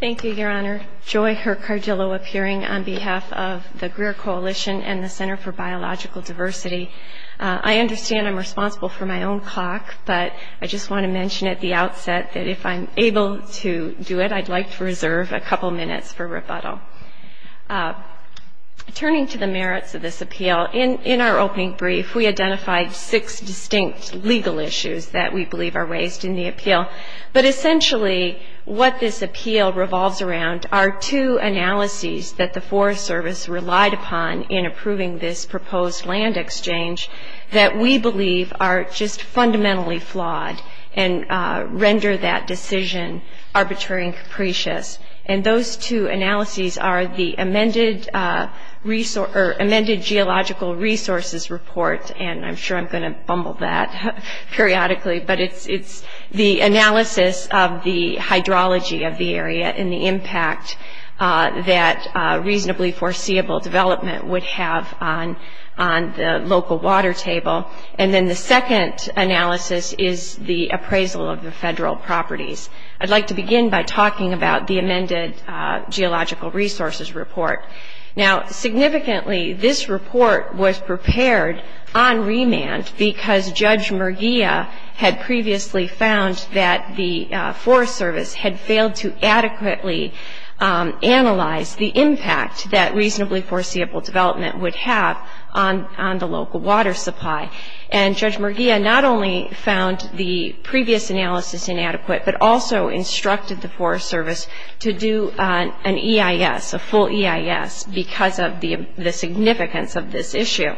Thank you, Your Honor. Joy Hercardillo appearing on behalf of the Greer Coalition and the Center for Biological Diversity. I understand I'm responsible for my own clock, but I just want to mention at the outset that if I'm able to do it, I'd like to reserve a couple minutes for rebuttal. Turning to the merits of this appeal, in our opening brief we identified six distinct legal issues that we believe are raised in the appeal. But essentially what this appeal revolves around are two analyses that the Forest Service relied upon in approving this proposed land exchange that we believe are just fundamentally flawed and render that decision arbitrary and capricious. And those two analyses are the amended geological resources report, and I'm sure I'm going to bumble that periodically, but it's the analysis of the hydrology of the area and the impact that reasonably foreseeable development would have on the local water table. And then the second analysis is the appraisal of the federal properties. I'd like to begin by talking about the amended geological resources report. Now, significantly this report was prepared on remand because Judge Merguia had previously found that the Forest Service had failed to adequately analyze the impact that reasonably foreseeable development would have on the local water supply. And Judge Merguia not only found the previous analysis inadequate, but also instructed the Forest Service to do an EIS, a full EIS, because of the significance of this issue.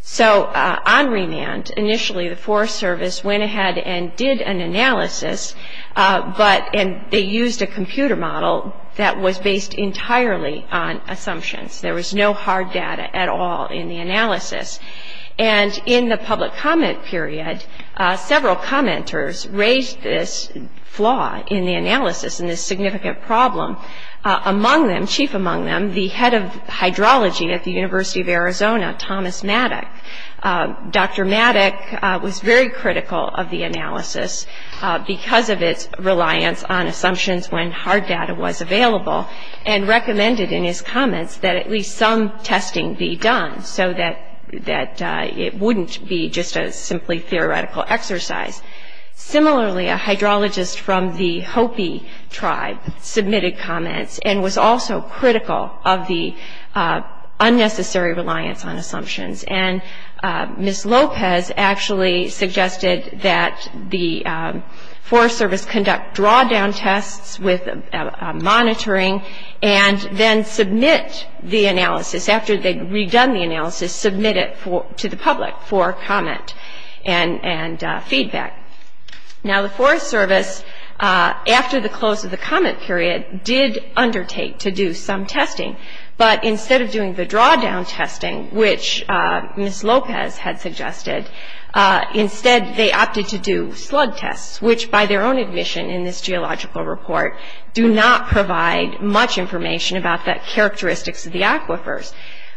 So on remand, initially the Forest Service went ahead and did an analysis, but they used a computer model that was based entirely on assumptions. There was no hard data at all in the analysis. And in the public comment period, several commenters raised this flaw in the analysis, in this significant problem. Among them, chief among them, the head of hydrology at the University of Arizona, Thomas Maddock. Dr. Maddock was very critical of the analysis because of its reliance on assumptions when hard data was available and recommended in his comments that at least some testing be done so that it wouldn't be just a simply theoretical exercise. Similarly, a hydrologist from the Hopi tribe submitted comments and was also critical of the unnecessary reliance on assumptions. And Ms. Lopez actually suggested that the Forest Service conduct draw-down tests with monitoring and then submit the analysis. After they'd redone the analysis, submit it to the public for comment and feedback. Now the Forest Service, after the close of the comment period, did undertake to do some testing. But instead of doing the draw-down testing, which Ms. Lopez had suggested, instead they opted to do slug tests, which by their own admission in this geological report do not provide much information about the characteristics of the aquifers.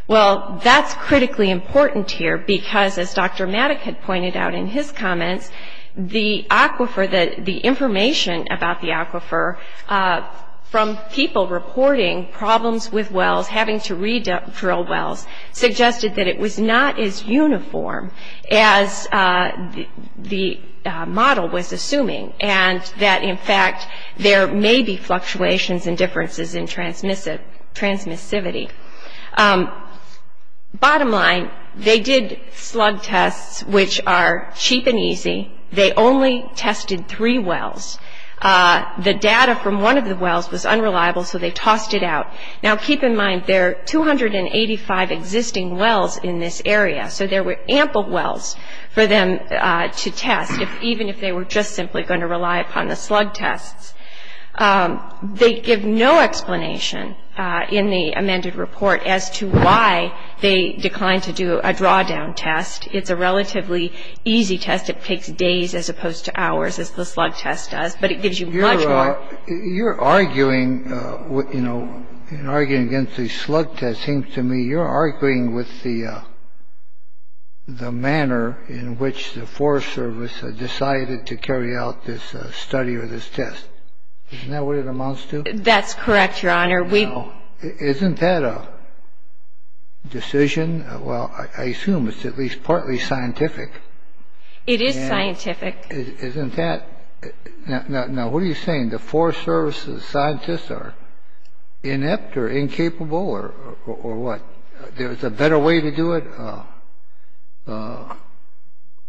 Well, that's critically important here because as Dr. Maddock had pointed out in his comments, the aquifer, the information about the aquifer from people reporting problems with wells, having to re-drill wells, suggested that it was not as uniform as the model was assuming and that in fact there may be fluctuations and differences in transmissivity. Bottom line, they did slug tests, which are cheap and easy. They only tested three wells. The data from one of the wells was unreliable, so they tossed it out. Now keep in mind there are 285 existing wells in this area, so there were ample wells for them to test, even if they were just simply going to rely upon the slug tests. They give no explanation in the amended report as to why they declined to do a draw-down test. It's a relatively easy test. It takes days as opposed to hours, as the slug test does, but it gives you much more. You're arguing against the slug test. It seems to me you're arguing with the manner in which the Forest Service decided to carry out this study or this test. Isn't that what it amounts to? That's correct, Your Honor. Isn't that a decision? Well, I assume it's at least partly scientific. It is scientific. Isn't that? Now, what are you saying? The Forest Service's scientists are inept or incapable or what? There's a better way to do it?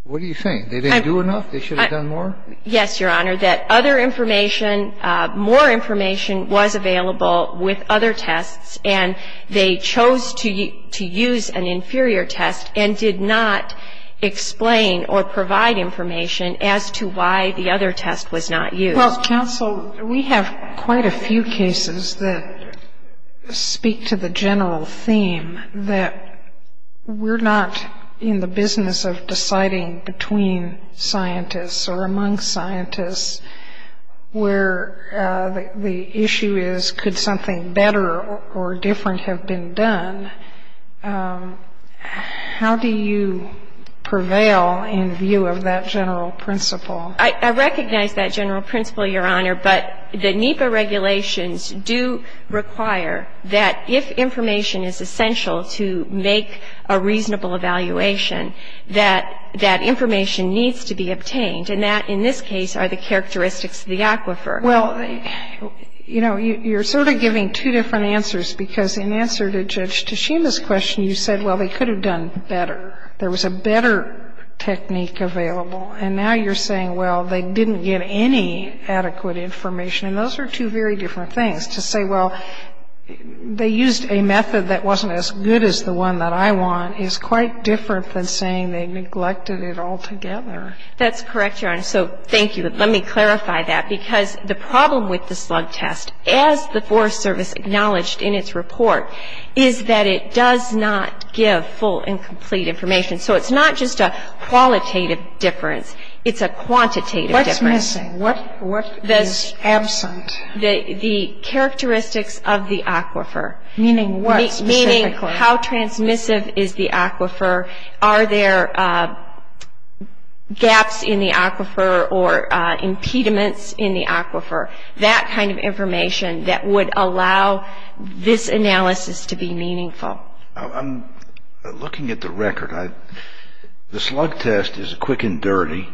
What are you saying? They didn't do enough? They should have done more? Yes, Your Honor, that other information, more information was available with other tests, and they chose to use an inferior test and did not explain or provide information as to why the other test was not used. Well, counsel, we have quite a few cases that speak to the general theme that we're not in the business of deciding between scientists or among scientists where the issue is could something better or different have been done. How do you prevail in view of that general principle? I recognize that general principle, Your Honor, but the NEPA regulations do require that if information is essential to make a reasonable evaluation, that that information needs to be obtained, and that, in this case, are the characteristics of the aquifer. Well, you know, you're sort of giving two different answers because in answer to Judge Tashima's question, you said, well, they could have done better. There was a better technique available. And now you're saying, well, they didn't get any adequate information. And those are two very different things. To say, well, they used a method that wasn't as good as the one that I want is quite different than saying they neglected it altogether. That's correct, Your Honor. So thank you. But let me clarify that because the problem with the slug test, as the Forest Service acknowledged in its report, is that it does not give full and complete information. So it's not just a qualitative difference. It's a quantitative difference. What is missing? What is absent? The characteristics of the aquifer. Meaning what specifically? Meaning how transmissive is the aquifer? Are there gaps in the aquifer or impediments in the aquifer? That kind of information that would allow this analysis to be meaningful. I'm looking at the record. The slug test is quick and dirty.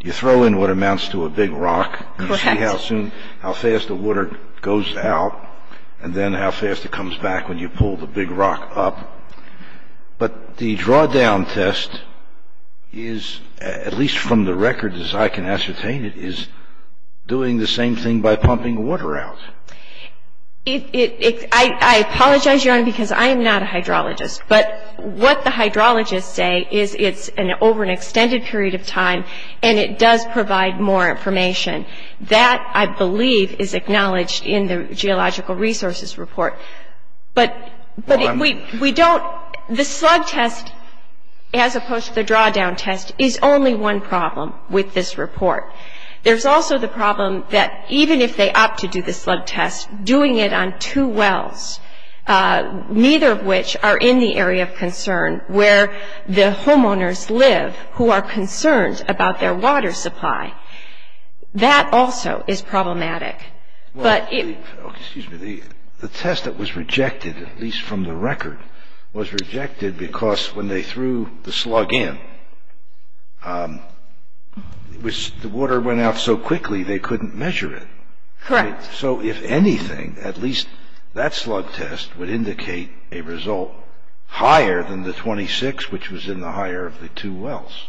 You throw in what amounts to a big rock. Correct. You see how soon, how fast the water goes out, and then how fast it comes back when you pull the big rock up. But the drawdown test is, at least from the record as I can ascertain it, is doing the same thing by pumping water out. I apologize, Your Honor, because I am not a hydrologist. But what the hydrologists say is it's over an extended period of time, and it does provide more information. That, I believe, is acknowledged in the geological resources report. But we don't, the slug test, as opposed to the drawdown test, is only one problem with this report. There's also the problem that even if they opt to do the slug test, doing it on two wells, neither of which are in the area of concern where the homeowners live who are concerned about their water supply, that also is problematic. Excuse me. The test that was rejected, at least from the record, was rejected because when they threw the slug in, the water went out so quickly they couldn't measure it. Correct. So if anything, at least that slug test would indicate a result higher than the 26, which was in the higher of the two wells.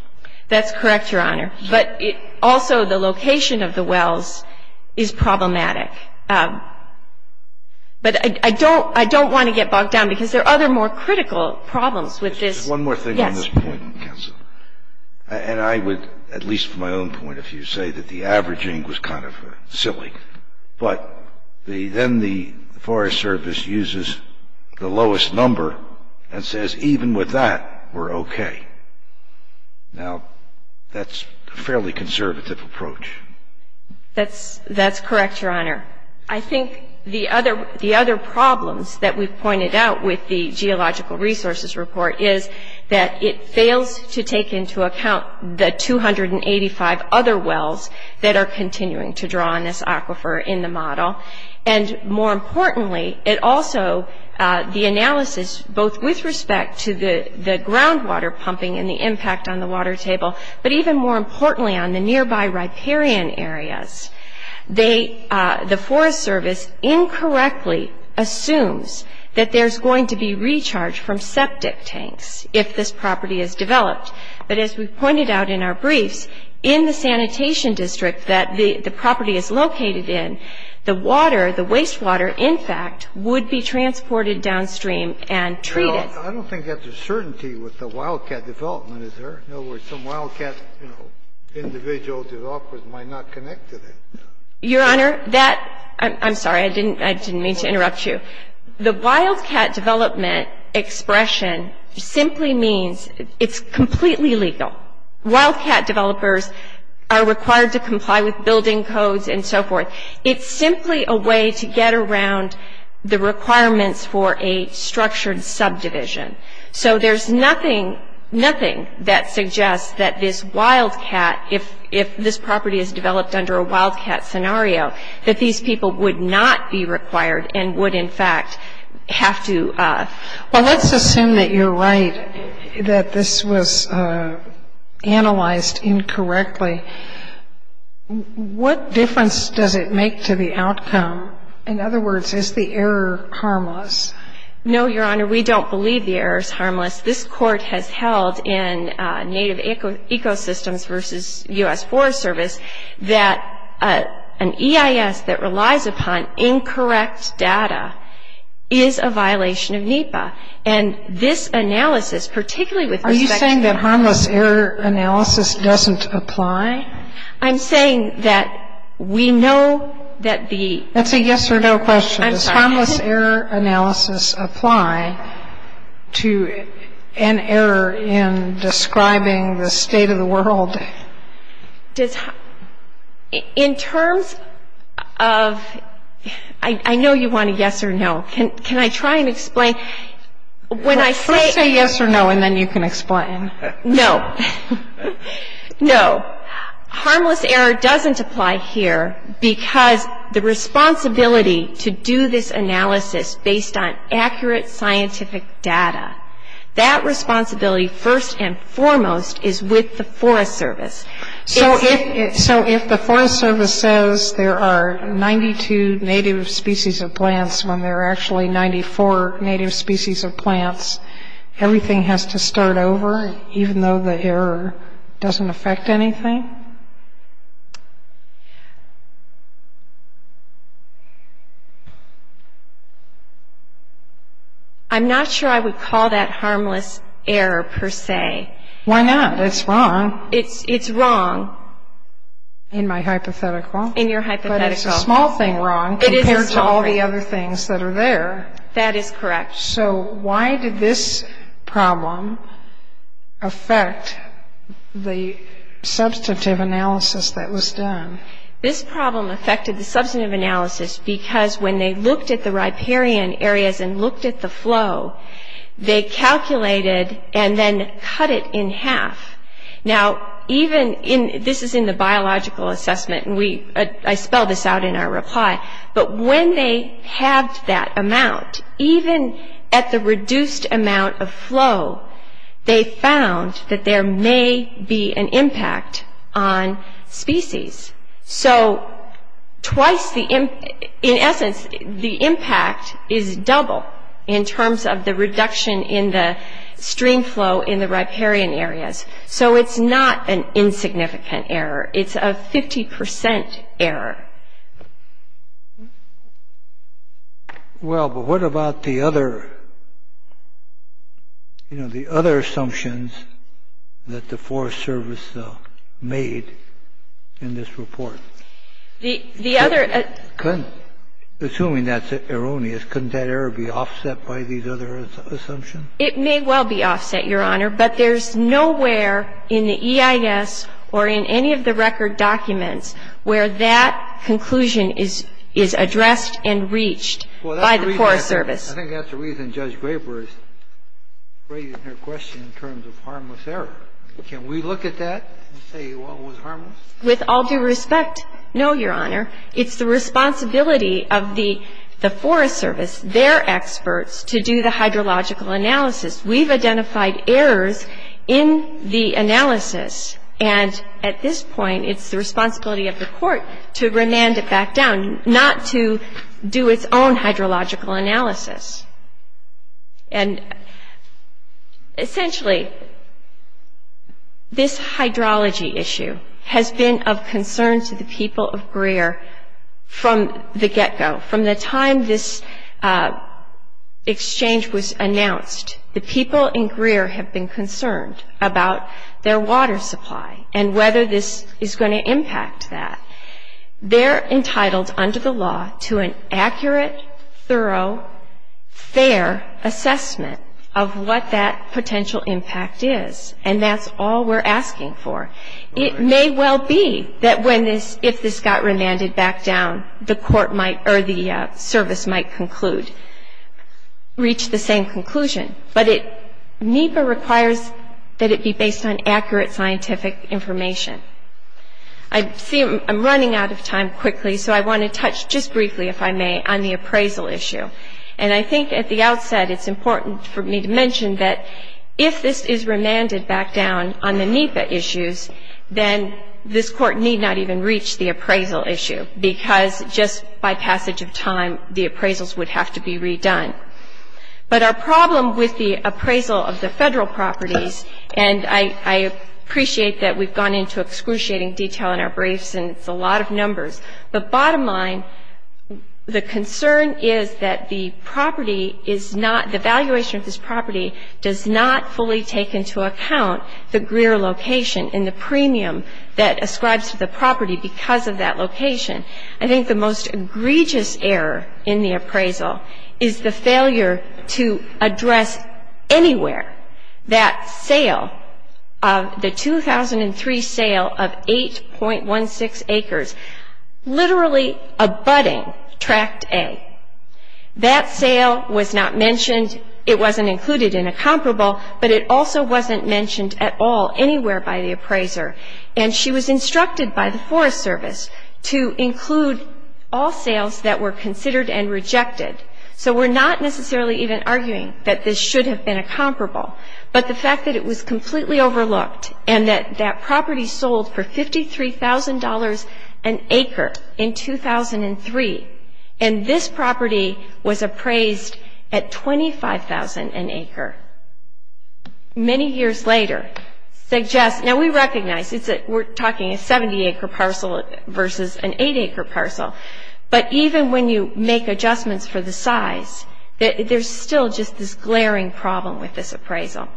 That's correct, Your Honor. But also the location of the wells is problematic. But I don't want to get bogged down because there are other more critical problems with this. There's one more thing on this point, Counselor. Yes. And I would, at least from my own point, if you say that the averaging was kind of silly, but then the Forest Service uses the lowest number and says, even with that, we're okay. Now, that's a fairly conservative approach. That's correct, Your Honor. I think the other problems that we've pointed out with the Geological Resources Report is that it fails to take into account the 285 other wells that are in the aquifer in the model. And more importantly, it also, the analysis, both with respect to the groundwater pumping and the impact on the water table, but even more importantly on the nearby riparian areas, the Forest Service incorrectly assumes that there's going to be recharge from septic tanks if this property is developed. But as we've pointed out in our briefs, in the sanitation district that the property is located in, the water, the wastewater, in fact, would be transported downstream and treated. I don't think that's a certainty with the wildcat development, is there? In other words, some wildcat, you know, individual developers might not connect to that. Your Honor, that — I'm sorry. I didn't mean to interrupt you. The wildcat development expression simply means it's completely legal. Wildcat developers are required to comply with building codes and so forth. It's simply a way to get around the requirements for a structured subdivision. So there's nothing, nothing that suggests that this wildcat, if this property is developed under a wildcat scenario, that these people would not be required and would, in fact, have to — Given that you're right, that this was analyzed incorrectly, what difference does it make to the outcome? In other words, is the error harmless? No, Your Honor, we don't believe the error is harmless. This Court has held in Native Ecosystems v. U.S. Forest Service that an EIS that relies upon incorrect data is a violation of NEPA. And this analysis, particularly with respect to — Are you saying that harmless error analysis doesn't apply? I'm saying that we know that the — That's a yes-or-no question. I'm sorry. Does harmless error analysis apply to an error in describing the state of the world? In terms of — I know you want a yes or no. Can I try and explain? When I say — First say yes or no, and then you can explain. No. No. Harmless error doesn't apply here because the responsibility to do this analysis based on accurate scientific data, that responsibility first and foremost is with the Forest Service. So if the Forest Service says there are 92 native species of plants when there are actually 94 native species of plants, everything has to start over, even though the error doesn't affect anything? I'm not sure I would call that harmless error, per se. Why not? It's wrong. It's wrong. In my hypothetical? In your hypothetical. But it's a small thing wrong compared to all the other things that are there. That is correct. So why did this problem affect the substantive analysis that was done? This problem affected the substantive analysis because when they looked at the riparian areas and looked at the flow, they calculated and then cut it in half. Now, even in — this is in the biological assessment, and we — I spelled this out in our reply, but when they halved that amount, even at the reduced amount of flow, they found that there may be an impact on species. So twice the — in essence, the impact is double in terms of the reduction in the stream flow in the riparian areas. So it's not an insignificant error. It's a 50 percent error. Well, but what about the other — you know, the other assumptions that the Forest Service made in this report? The other — Assuming that's erroneous, couldn't that error be offset by these other assumptions? It may well be offset, Your Honor, but there's nowhere in the EIS or in any of the record documents where that conclusion is addressed and reached by the Forest Service. I think that's the reason Judge Graber is raising her question in terms of harmless error. Can we look at that and say, well, it was harmless? With all due respect, no, Your Honor. It's the responsibility of the Forest Service, their experts, to do the hydrological analysis. We've identified errors in the analysis, and at this point, it's the responsibility of the court to remand it back down, not to do its own hydrological analysis. And, essentially, this hydrology issue has been of concern to the people of Greer from the get-go. From the time this exchange was announced, the people in Greer have been concerned about their water supply and whether this is going to impact that. They're entitled, under the law, to an accurate, thorough, fair assessment of what that potential impact is, and that's all we're asking for. It may well be that when this, if this got remanded back down, the court might, or the service might conclude, reach the same conclusion. But NEPA requires that it be based on accurate scientific information. I see I'm running out of time quickly, so I want to touch just briefly, if I may, on the appraisal issue. And I think at the outset, it's important for me to mention that if this is remanded back down on the NEPA issues, then this court need not even reach the appraisal issue, because just by passage of time, the appraisals would have to be redone. But our problem with the appraisal of the Federal properties, and I appreciate that we've gone into excruciating detail in our briefs, and it's a lot of numbers. The bottom line, the concern is that the property is not, the valuation of this property does not fully take into account the Greer location and the premium that ascribes to the property because of that location. I think the most egregious error in the appraisal is the failure to address anywhere that sale of the 2003 sale of 8.16 acres, literally abutting tract A. That sale was not mentioned. It wasn't included in a comparable, but it also wasn't mentioned at all anywhere by the appraiser. And she was instructed by the Forest Service to include all sales that were considered and rejected. So we're not necessarily even arguing that this should have been a comparable, but the property sold for $53,000 an acre in 2003, and this property was appraised at $25,000 an acre. Many years later, now we recognize we're talking a 70-acre parcel versus an 8-acre parcel, but even when you make adjustments for the size, there's still just this glaring problem with this appraisal.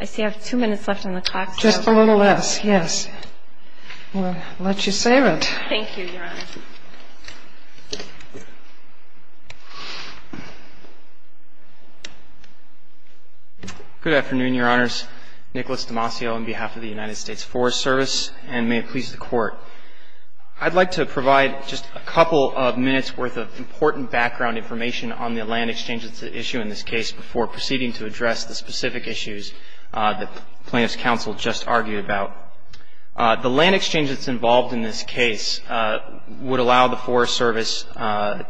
I see I have two minutes left on the clock. Just a little less, yes. We'll let you save it. Thank you, Your Honor. Good afternoon, Your Honors. Nicholas Demasio on behalf of the United States Forest Service, and may it please the Court. I'd like to provide just a couple of minutes' worth of important background information on the land exchange that's at issue in this case before proceeding to address the specific issues that Plaintiff's Counsel just argued about. The land exchange that's involved in this case would allow the Forest Service, the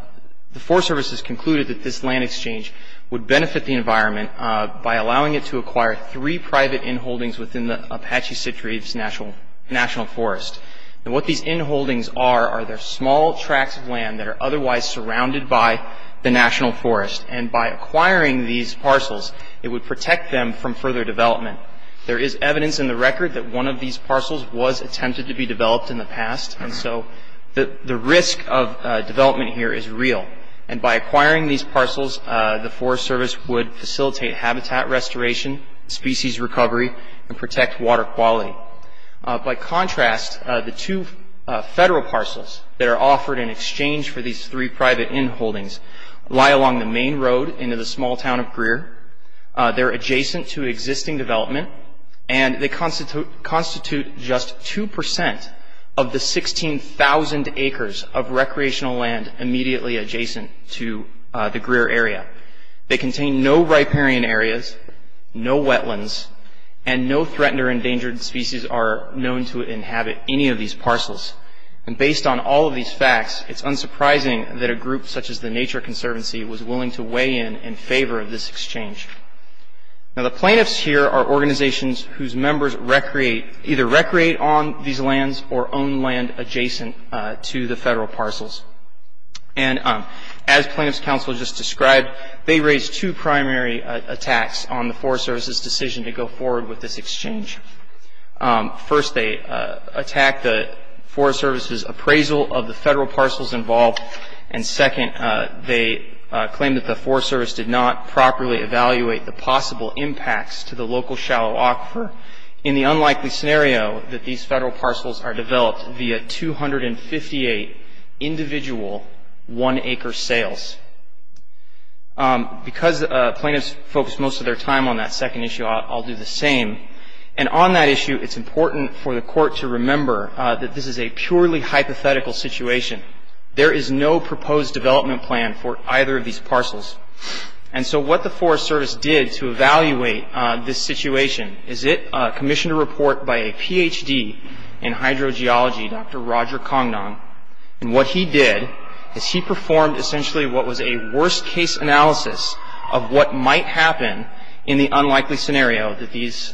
Forest Service has concluded that this land exchange would benefit the environment by allowing it to acquire three private inholdings within the Apache-Citries National Forest. What these inholdings are, are they're small tracts of land that are otherwise surrounded by the National Forest, and by acquiring these parcels, it would protect them from further development. There is evidence in the record that one of these parcels was attempted to be developed in the past, and so the risk of development here is real. By acquiring these parcels, the Forest Service would facilitate habitat restoration, species recovery, and protect water quality. By contrast, the two federal parcels that are offered in exchange for these three private inholdings lie along the main road into the small town of Greer. They're adjacent to existing development, and they constitute just 2% of the 16,000 acres of recreational land immediately adjacent to the Greer area. They contain no riparian areas, no wetlands, and no threatened or endangered species are known to inhabit any of these parcels. Based on all of these facts, it's unsurprising that a group such as the Nature Conservancy was willing to weigh in in favor of this exchange. The plaintiffs here are organizations whose members either recreate on these lands or own land adjacent to the federal parcels. As Plaintiff's Counsel just described, they raised two primary attacks on the Forest Service's decision to go forward with this exchange. First, they attacked the Forest Service's appraisal of the federal parcels involved, and second, they claimed that the Forest Service did not properly evaluate the possible impacts to the local shallow aquifer in the unlikely scenario that these federal parcels are developed via 258 individual one-acre sales. Because plaintiffs focused most of their time on that second issue, I'll do the same. On that issue, it's important for the Court to remember that this is a purely hypothetical situation. There is no proposed development plan for either of these parcels. What the Forest Service did to evaluate this situation is it commissioned a report by a Ph.D. in hydrogeology, Dr. Roger Congdon. What he did is he performed essentially what was a worst-case analysis of what might happen in the unlikely scenario that these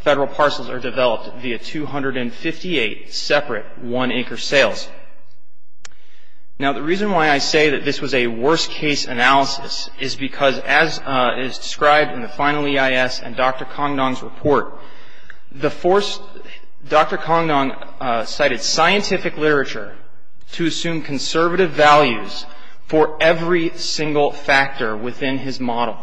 federal parcels are developed via 258 separate one-acre sales. Now, the reason why I say that this was a worst-case analysis is because, as is described in the final EIS and Dr. Congdon's report, Dr. Congdon cited scientific literature to assume conservative values for every single factor within his model.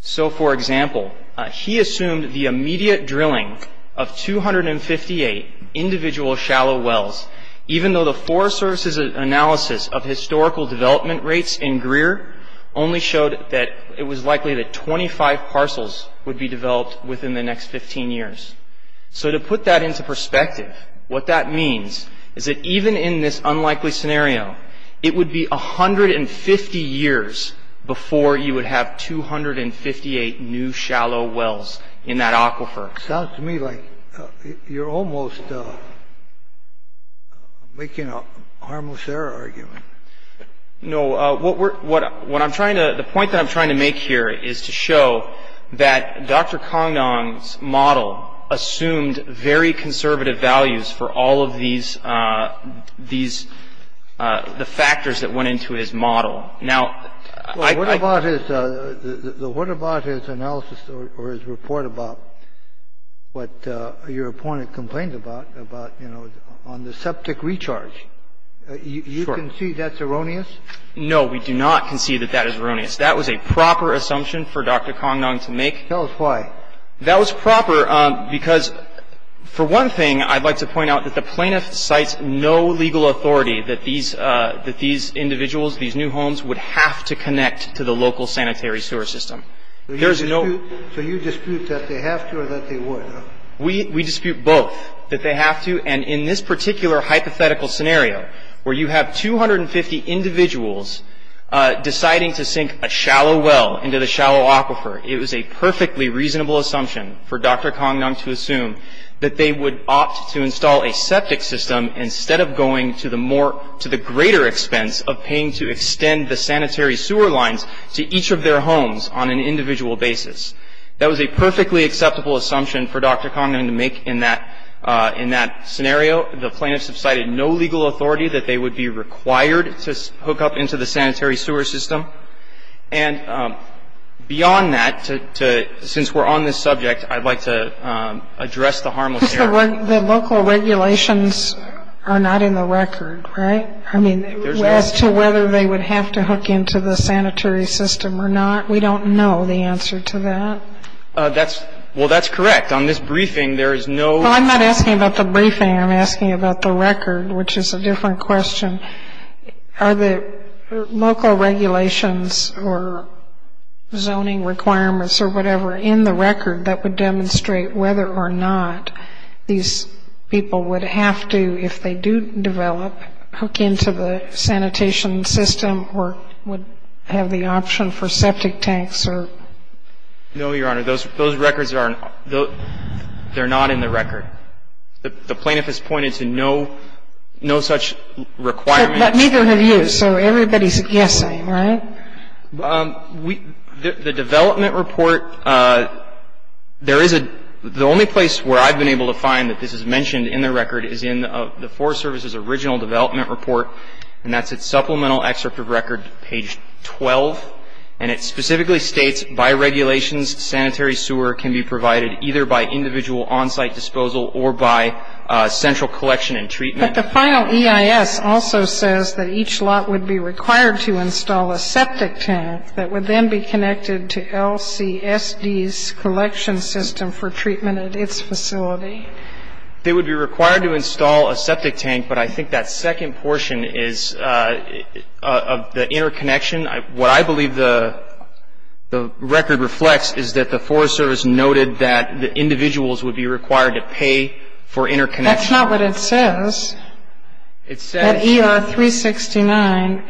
So, for example, he assumed the immediate drilling of 258 individual shallow wells, even though the Forest Service's analysis of historical development rates in Greer only showed that it was likely that 25 parcels would be developed within the next 15 years. So to put that into perspective, what that means is that even in this unlikely scenario, it would be 150 years before you would have 258 new shallow wells in that aquifer. It sounds to me like you're almost making a harmless error argument. No. What we're — what I'm trying to — the point that I'm trying to make here is to show that Dr. Congdon's model assumed very conservative values for all of these — these — the factors that went into his model. Now, I — Well, what about his — what about his analysis or his report about what your appointment complained about, about, you know, on the septic recharge? Sure. You concede that's erroneous? No, we do not concede that that is erroneous. That was a proper assumption for Dr. Congdon to make. Tell us why. That was proper because, for one thing, I'd like to point out that the plaintiff cites no legal authority that these — that these individuals, these new homes, would have to connect to the local sanitary sewer system. There's no — So you dispute that they have to or that they would, huh? We dispute both, that they have to. And in this particular hypothetical scenario, where you have 250 individuals deciding to sink a shallow well into the shallow aquifer, it was a perfectly reasonable assumption for Dr. Congdon to assume that they would opt to install a septic system instead of going to the more — to the greater expense of paying to extend the sanitary sewer lines to each of their homes on an individual basis. That was a perfectly acceptable assumption for Dr. Congdon to make in that — in that scenario. The plaintiffs have cited no legal authority that they would be required to hook up into the sanitary sewer system. And beyond that, since we're on this subject, I'd like to address the harmless error. The local regulations are not in the record, right? I mean, as to whether they would have to hook into the sanitary system or not, we don't know the answer to that. That's — well, that's correct. On this briefing, there is no — Well, I'm not asking about the briefing. I'm asking about the record, which is a different question. Are the local regulations or zoning requirements or whatever in the record that would demonstrate whether or not these people would have to, if they do develop, hook into the sanitation system or would have the option for septic tanks or — No, Your Honor. Those records are — they're not in the record. The plaintiff has pointed to no such requirement. But neither have you. So everybody's guessing, right? The development report, there is a — the only place where I've been able to find that this is mentioned in the record is in the Forest Service's original development report, and that's at Supplemental Excerpt of Record, page 12. And it specifically states, by regulations, sanitary sewer can be provided either by individual on-site disposal or by central collection and treatment. But the final EIS also says that each lot would be required to install a septic tank that would then be connected to LCSD's collection system for treatment at its facility. They would be required to install a septic tank, but I think that second portion is of the interconnection. What I believe the record reflects is that the Forest Service noted that the individuals would be required to pay for interconnection. That's not what it says. It says — At ER 369,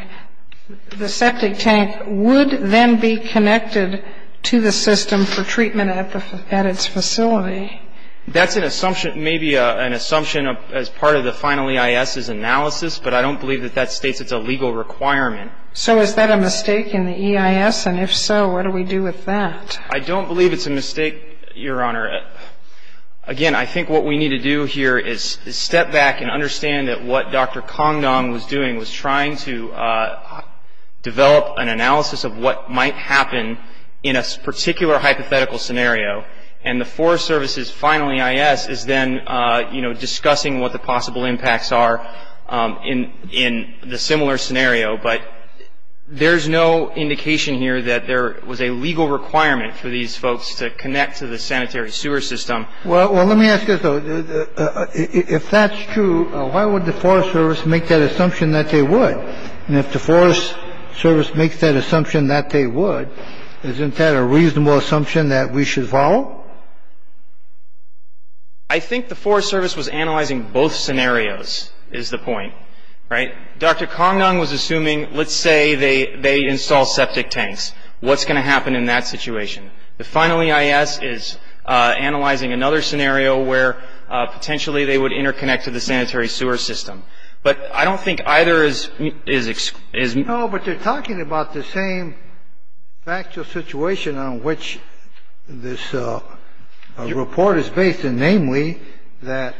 the septic tank would then be connected to the system for treatment at its facility. That's an assumption — maybe an assumption as part of the final EIS's analysis, but I don't believe that that states it's a legal requirement. So is that a mistake in the EIS? And if so, what do we do with that? I don't believe it's a mistake, Your Honor. Again, I think what we need to do here is step back and understand that what Dr. Congdong was doing was trying to develop an analysis of what might happen in a particular hypothetical scenario, and the Forest Service's final EIS is then discussing what the possible impacts are in the similar scenario, but there's no indication here that there was a legal requirement for these folks to connect to the sanitary sewer system. Well, let me ask you this, though. If that's true, why would the Forest Service make that assumption that they would? And if the Forest Service makes that assumption that they would, isn't that a reasonable assumption that we should follow? I think the Forest Service was analyzing both scenarios, is the point, right? Dr. Congdong was assuming, let's say they install septic tanks. What's going to happen in that situation? The final EIS is analyzing another scenario where potentially they would interconnect to the sanitary sewer system. But I don't think either is — No, but they're talking about the same factual situation on which this report is based in, namely that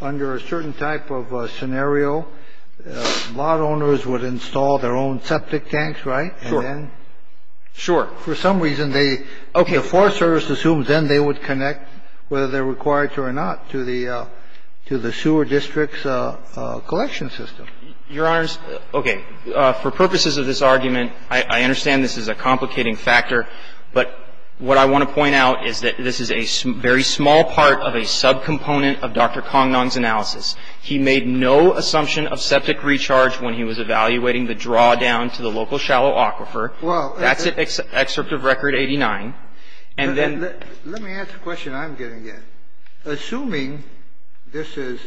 under a certain type of scenario, lot owners would install their own septic tanks, right? Sure. Sure. For some reason, the Forest Service assumes then they would connect, whether they're required to or not, to the sewer district's collection system. Your Honors, okay. For purposes of this argument, I understand this is a complicating factor. But what I want to point out is that this is a very small part of a subcomponent of Dr. Congdong's analysis. He made no assumption of septic recharge when he was evaluating the draw down to the local shallow aquifer. That's an excerpt of Record 89. And then — Let me ask a question I'm getting at. Assuming this is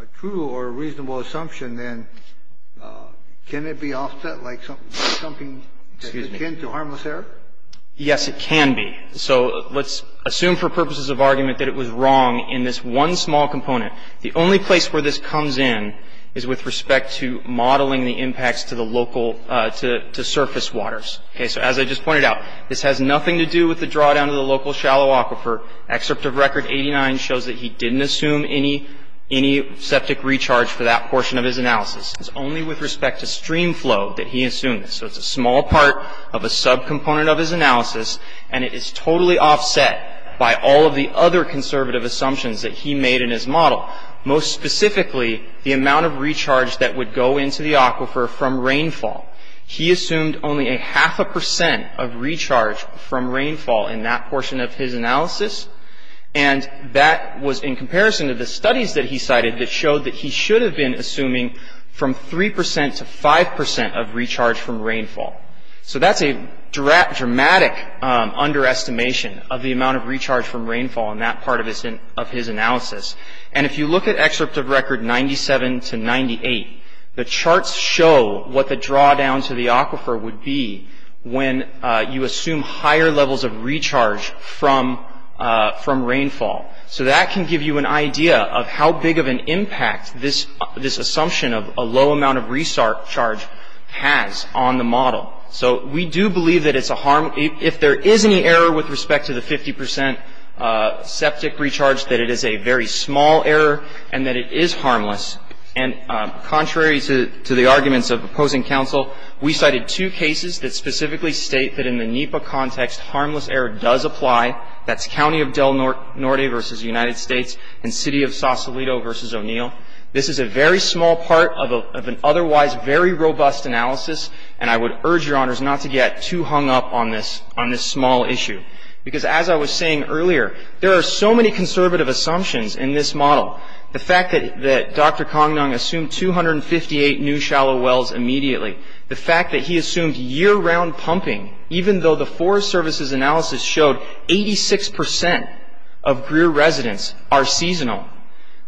a true or reasonable assumption, then can it be offset like something that's akin to harmless error? Yes, it can be. So let's assume for purposes of argument that it was wrong in this one small component. The only place where this comes in is with respect to modeling the impacts to the local — to surface waters. Okay, so as I just pointed out, this has nothing to do with the draw down to the local shallow aquifer. Excerpt of Record 89 shows that he didn't assume any septic recharge for that portion of his analysis. It's only with respect to stream flow that he assumed this. So it's a small part of a subcomponent of his analysis, and it is totally offset by all of the other conservative assumptions that he made in his model. Most specifically, the amount of recharge that would go into the aquifer from rainfall. He assumed only a half a percent of recharge from rainfall in that portion of his analysis, and that was in comparison to the studies that he cited that showed that he should have been assuming from 3 percent to 5 percent of recharge from rainfall. So that's a dramatic underestimation of the amount of recharge from rainfall in that part of his analysis. And if you look at Excerpt of Record 97 to 98, the charts show what the draw down to the aquifer would be when you assume higher levels of recharge from rainfall. So that can give you an idea of how big of an impact this assumption of a low amount of recharge has on the model. So we do believe that it's a harm. If there is any error with respect to the 50 percent septic recharge, that it is a very small error and that it is harmless. And contrary to the arguments of opposing counsel, we cited two cases that specifically state that in the NEPA context, harmless error does apply. That's County of Del Norte v. United States and City of Sausalito v. O'Neill. This is a very small part of an otherwise very robust analysis, and I would urge Your Honors not to get too hung up on this small issue. Because as I was saying earlier, there are so many conservative assumptions in this model. The fact that Dr. Kongnong assumed 258 new shallow wells immediately, the fact that he assumed year-round pumping, even though the Forest Service's analysis showed 86 percent of Greer residents are seasonal,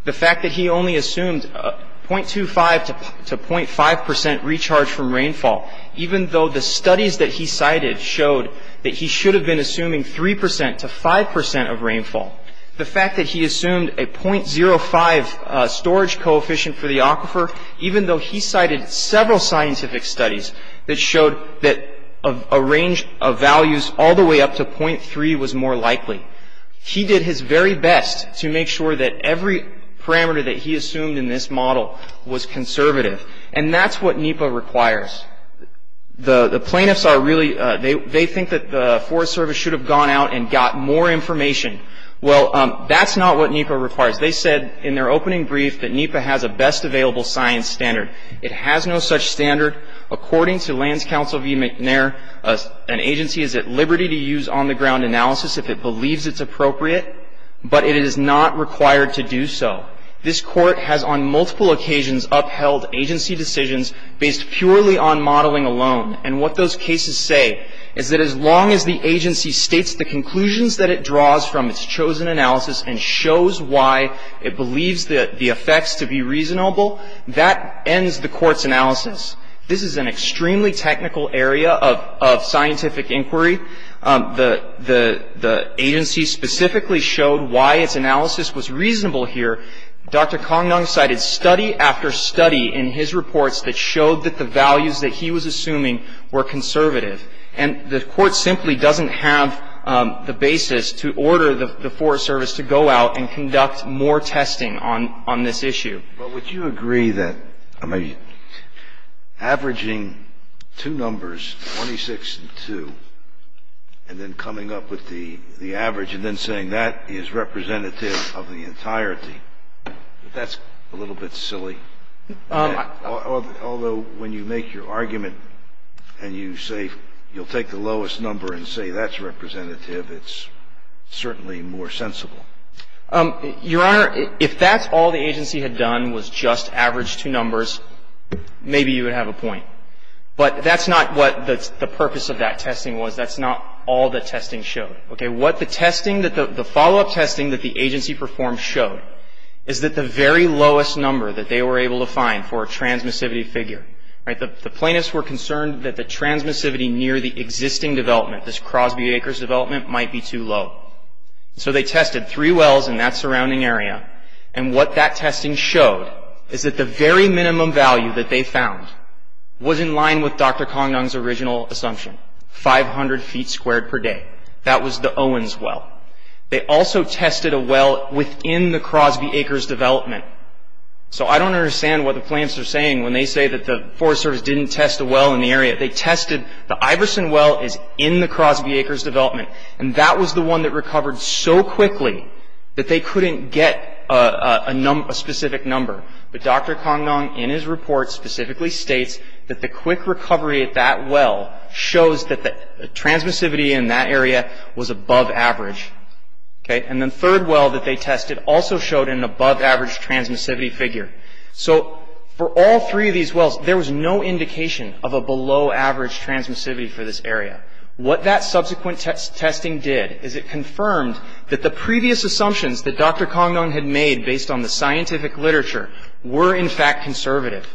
the fact that he only assumed 0.25 to 0.5 percent recharge from rainfall, even though the studies that he cited showed that he should have been assuming 3 percent to 5 percent of rainfall, the fact that he assumed a 0.05 storage coefficient for the aquifer, even though he cited several scientific studies that showed that a range of values all the way up to 0.3 was more likely, he did his very best to make sure that every parameter that he assumed in this model was conservative. And that's what NEPA requires. The plaintiffs are really, they think that the Forest Service should have gone out and got more information. Well, that's not what NEPA requires. They said in their opening brief that NEPA has a best available science standard. It has no such standard. According to Lands Council v. McNair, an agency is at liberty to use on-the-ground analysis if it believes it's appropriate, but it is not required to do so. This Court has on multiple occasions upheld agency decisions based purely on modeling alone, and what those cases say is that as long as the agency states the conclusions that it draws from its chosen analysis and shows why it believes the effects to be reasonable, that ends the Court's analysis. This is an extremely technical area of scientific inquiry. The agency specifically showed why its analysis was reasonable here. Dr. Kongnong cited study after study in his reports that showed that the values that he was assuming were conservative. And the Court simply doesn't have the basis to order the Forest Service to go out and conduct more testing on this issue. But would you agree that, I mean, averaging two numbers, 26 and 2, and then coming up with the average and then saying that is representative of the entirety, that's a little bit silly? Although when you make your argument and you say you'll take the lowest number and say that's representative, it's certainly more sensible. Your Honor, if that's all the agency had done was just average two numbers, maybe you would have a point. But that's not what the purpose of that testing was. That's not all the testing showed. Okay. What the testing, the follow-up testing that the agency performed showed is that the very lowest number that they were able to find for a transmissivity figure, right, the plaintiffs were concerned that the transmissivity near the existing development, this Crosby-Akers development, might be too low. So they tested three wells in that surrounding area. And what that testing showed is that the very minimum value that they found was in line with Dr. Congdong's original assumption, 500 feet squared per day. That was the Owens well. They also tested a well within the Crosby-Akers development. So I don't understand what the plaintiffs are saying when they say that the Forest Service didn't test a well in the area. They tested the Iverson well is in the Crosby-Akers development. And that was the one that recovered so quickly that they couldn't get a specific number. But Dr. Congdong, in his report, specifically states that the quick recovery at that well shows that the transmissivity in that area was above average. Okay. And the third well that they tested also showed an above average transmissivity figure. So for all three of these wells, there was no indication of a below average transmissivity for this area. What that subsequent testing did is it confirmed that the previous assumptions that Dr. Congdong had made based on the scientific literature were, in fact, conservative.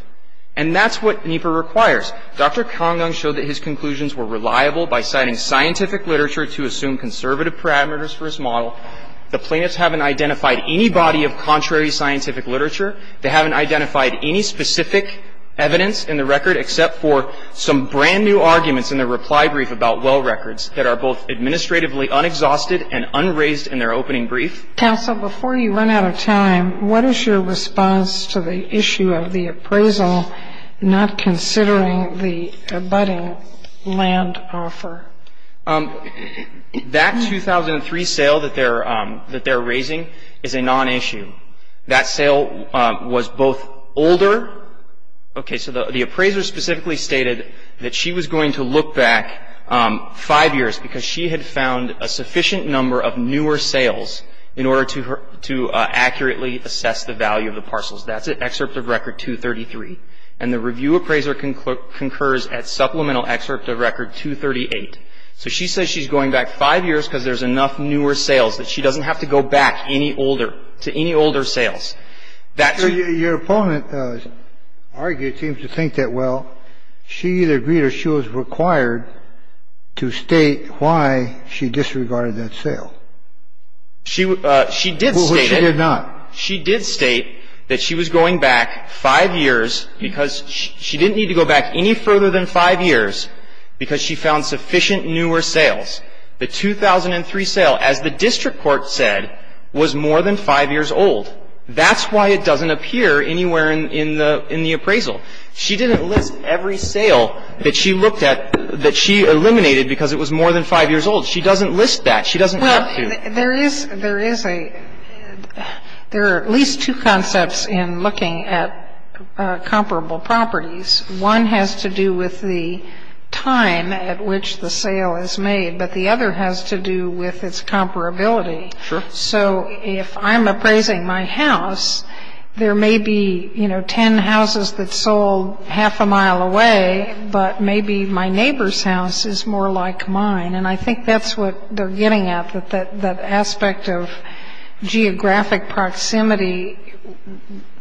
And that's what NEPA requires. Dr. Congdong showed that his conclusions were reliable by citing scientific literature to assume conservative parameters for his model. The plaintiffs haven't identified any body of contrary scientific literature. They haven't identified any specific evidence in the record except for some brand-new arguments in their reply brief about well records that are both administratively unexhausted and unraised in their opening brief. Counsel, before you run out of time, what is your response to the issue of the appraisal not considering the abutting land offer? That 2003 sale that they're raising is a non-issue. That sale was both older. Okay. So the appraiser specifically stated that she was going to look back five years because she had found a sufficient number of newer sales in order to accurately assess the value of the parcels. That's at excerpt of record 233. And the review appraiser concurs at supplemental excerpt of record 238. So she says she's going back five years because there's enough newer sales that she doesn't have to go back any older, to any older sales. Your opponent argued, seems to think that, well, she either agreed or she was required to state why she disregarded that sale. She did state it. Well, she did not. She did state that she was going back five years because she didn't need to go back any further than five years because she found sufficient newer sales. The 2003 sale, as the district court said, was more than five years old. That's why it doesn't appear anywhere in the appraisal. She didn't list every sale that she looked at that she eliminated because it was more than five years old. She doesn't list that. She doesn't have to. There is a – there are at least two concepts in looking at comparable properties. One has to do with the time at which the sale is made, but the other has to do with its comparability. Sure. So if I'm appraising my house, there may be, you know, ten houses that sold half a mile away, but maybe my neighbor's house is more like mine. And I think that's what they're getting at, that that aspect of geographic proximity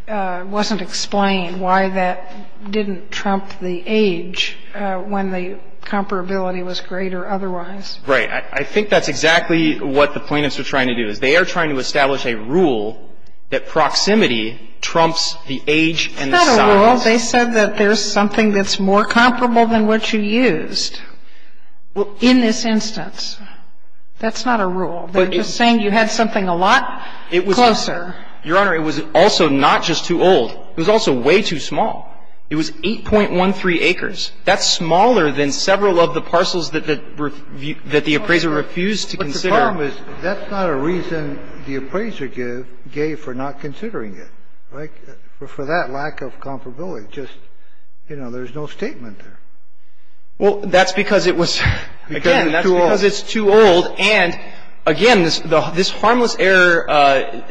wasn't explained, why that didn't trump the age when the comparability was great or otherwise. Right. I think that's exactly what the plaintiffs are trying to do, is they are trying to establish a rule that proximity trumps the age and the size. It's not a rule. Well, they said that there's something that's more comparable than what you used in this instance. That's not a rule. They're just saying you had something a lot closer. Your Honor, it was also not just too old. It was also way too small. It was 8.13 acres. That's smaller than several of the parcels that the appraiser refused to consider. But the problem is that's not a reason the appraiser gave for not considering it, right? For that lack of comparability, just, you know, there's no statement there. Well, that's because it was, again, that's because it's too old. And, again, this harmless error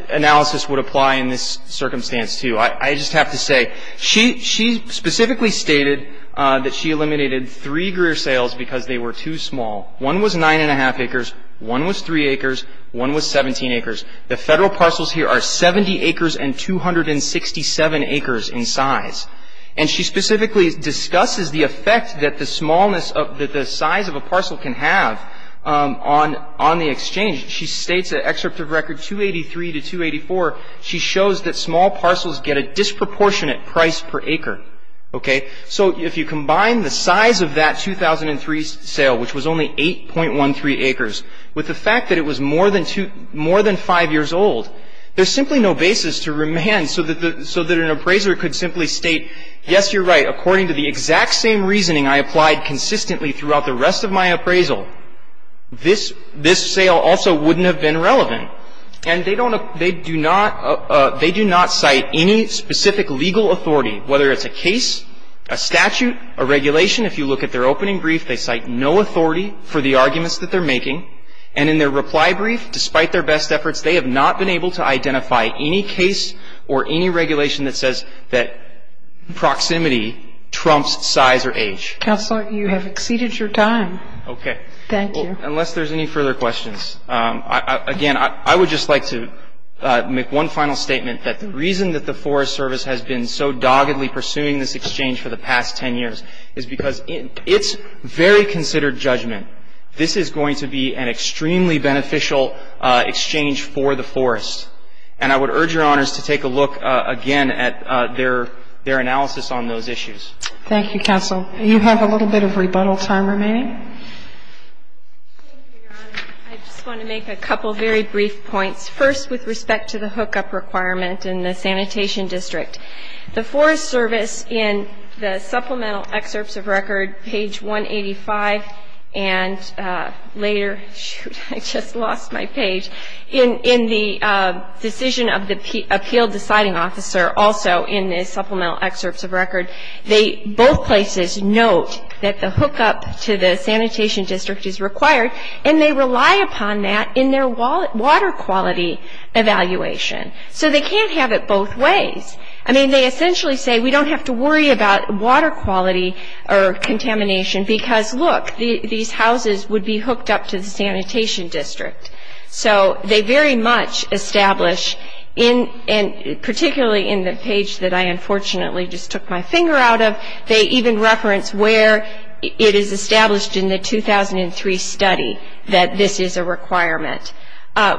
analysis would apply in this circumstance, too. I just have to say, she specifically stated that she eliminated three greer sales because they were too small. One was 9.5 acres. One was 3 acres. One was 17 acres. The federal parcels here are 70 acres and 267 acres in size. And she specifically discusses the effect that the smallness of the size of a parcel can have on the exchange. She states an excerpt of record 283 to 284. She shows that small parcels get a disproportionate price per acre, okay? So if you combine the size of that 2003 sale, which was only 8.13 acres, with the fact that it was more than five years old, there's simply no basis to remand so that an appraiser could simply state, yes, you're right, according to the exact same reasoning I applied consistently throughout the rest of my appraisal, this sale also wouldn't have been relevant. And they do not cite any specific legal authority, whether it's a case, a statute, a regulation. If you look at their opening brief, they cite no authority for the arguments that they're making. And in their reply brief, despite their best efforts, they have not been able to identify any case or any regulation that says that proximity trumps size or age. Counselor, you have exceeded your time. Okay. Thank you. Unless there's any further questions. Again, I would just like to make one final statement, that the reason that the Forest Service has been so doggedly pursuing this exchange for the past 10 years is because it's very considered judgment. This is going to be an extremely beneficial exchange for the forest. And I would urge Your Honors to take a look again at their analysis on those issues. Thank you, Counsel. You have a little bit of rebuttal time remaining. I just want to make a couple very brief points. First, with respect to the hookup requirement in the Sanitation District, the Forest Service in the Supplemental Excerpts of Record, page 185, and later, shoot, I just lost my page, in the decision of the Appeal Deciding Officer, also in the Supplemental Excerpts of Record, both places note that the hookup to the Sanitation District is required, and they rely upon that in their water quality evaluation. So they can't have it both ways. I mean, they essentially say, we don't have to worry about water quality or contamination, because, look, these houses would be hooked up to the Sanitation District. So they very much establish, particularly in the page that I unfortunately just took my finger out of, they even reference where it is established in the 2003 study that this is a requirement.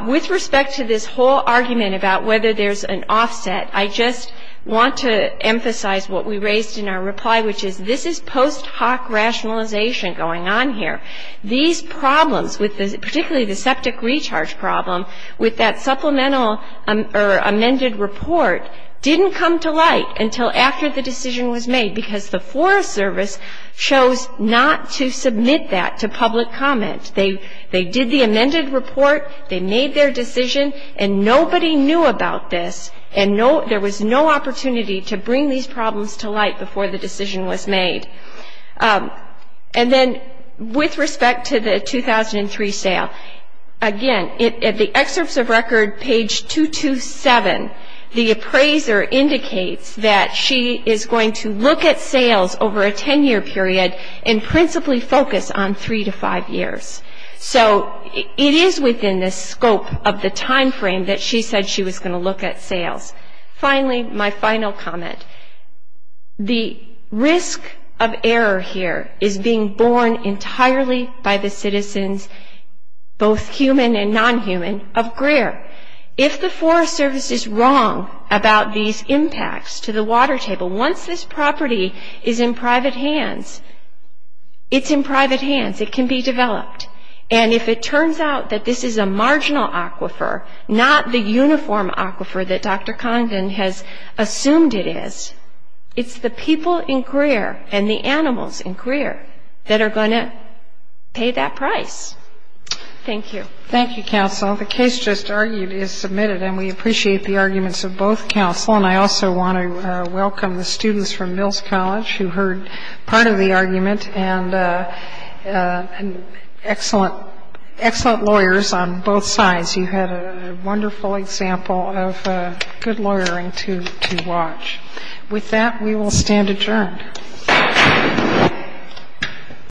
With respect to this whole argument about whether there's an offset, I just want to emphasize what we raised in our reply, which is this is post hoc rationalization going on here. These problems, particularly the septic recharge problem, with that supplemental or amended report didn't come to light until after the decision was made, because the Forest Service chose not to submit that to public comment. They did the amended report, they made their decision, and nobody knew about this, and there was no opportunity to bring these problems to light before the decision was made. And then with respect to the 2003 sale, again, in the Excerpts of Record, page 227, the appraiser indicates that she is going to look at sales over a 10-year period and principally focus on three to five years. So it is within the scope of the time frame that she said she was going to look at sales. Finally, my final comment, the risk of error here is being borne entirely by the citizens, both human and non-human, of Greer. If the Forest Service is wrong about these impacts to the water table, once this property is in private hands, it's in private hands. It can be developed. And if it turns out that this is a marginal aquifer, not the uniform aquifer that Dr. Condon has assumed it is, it's the people in Greer and the animals in Greer that are going to pay that price. Thank you. Thank you, counsel. The case just argued is submitted, and we appreciate the arguments of both counsel, and I also want to welcome the students from Mills College who heard part of the argument and excellent lawyers on both sides. You had a wonderful example of good lawyering to watch. With that, we will stand adjourned.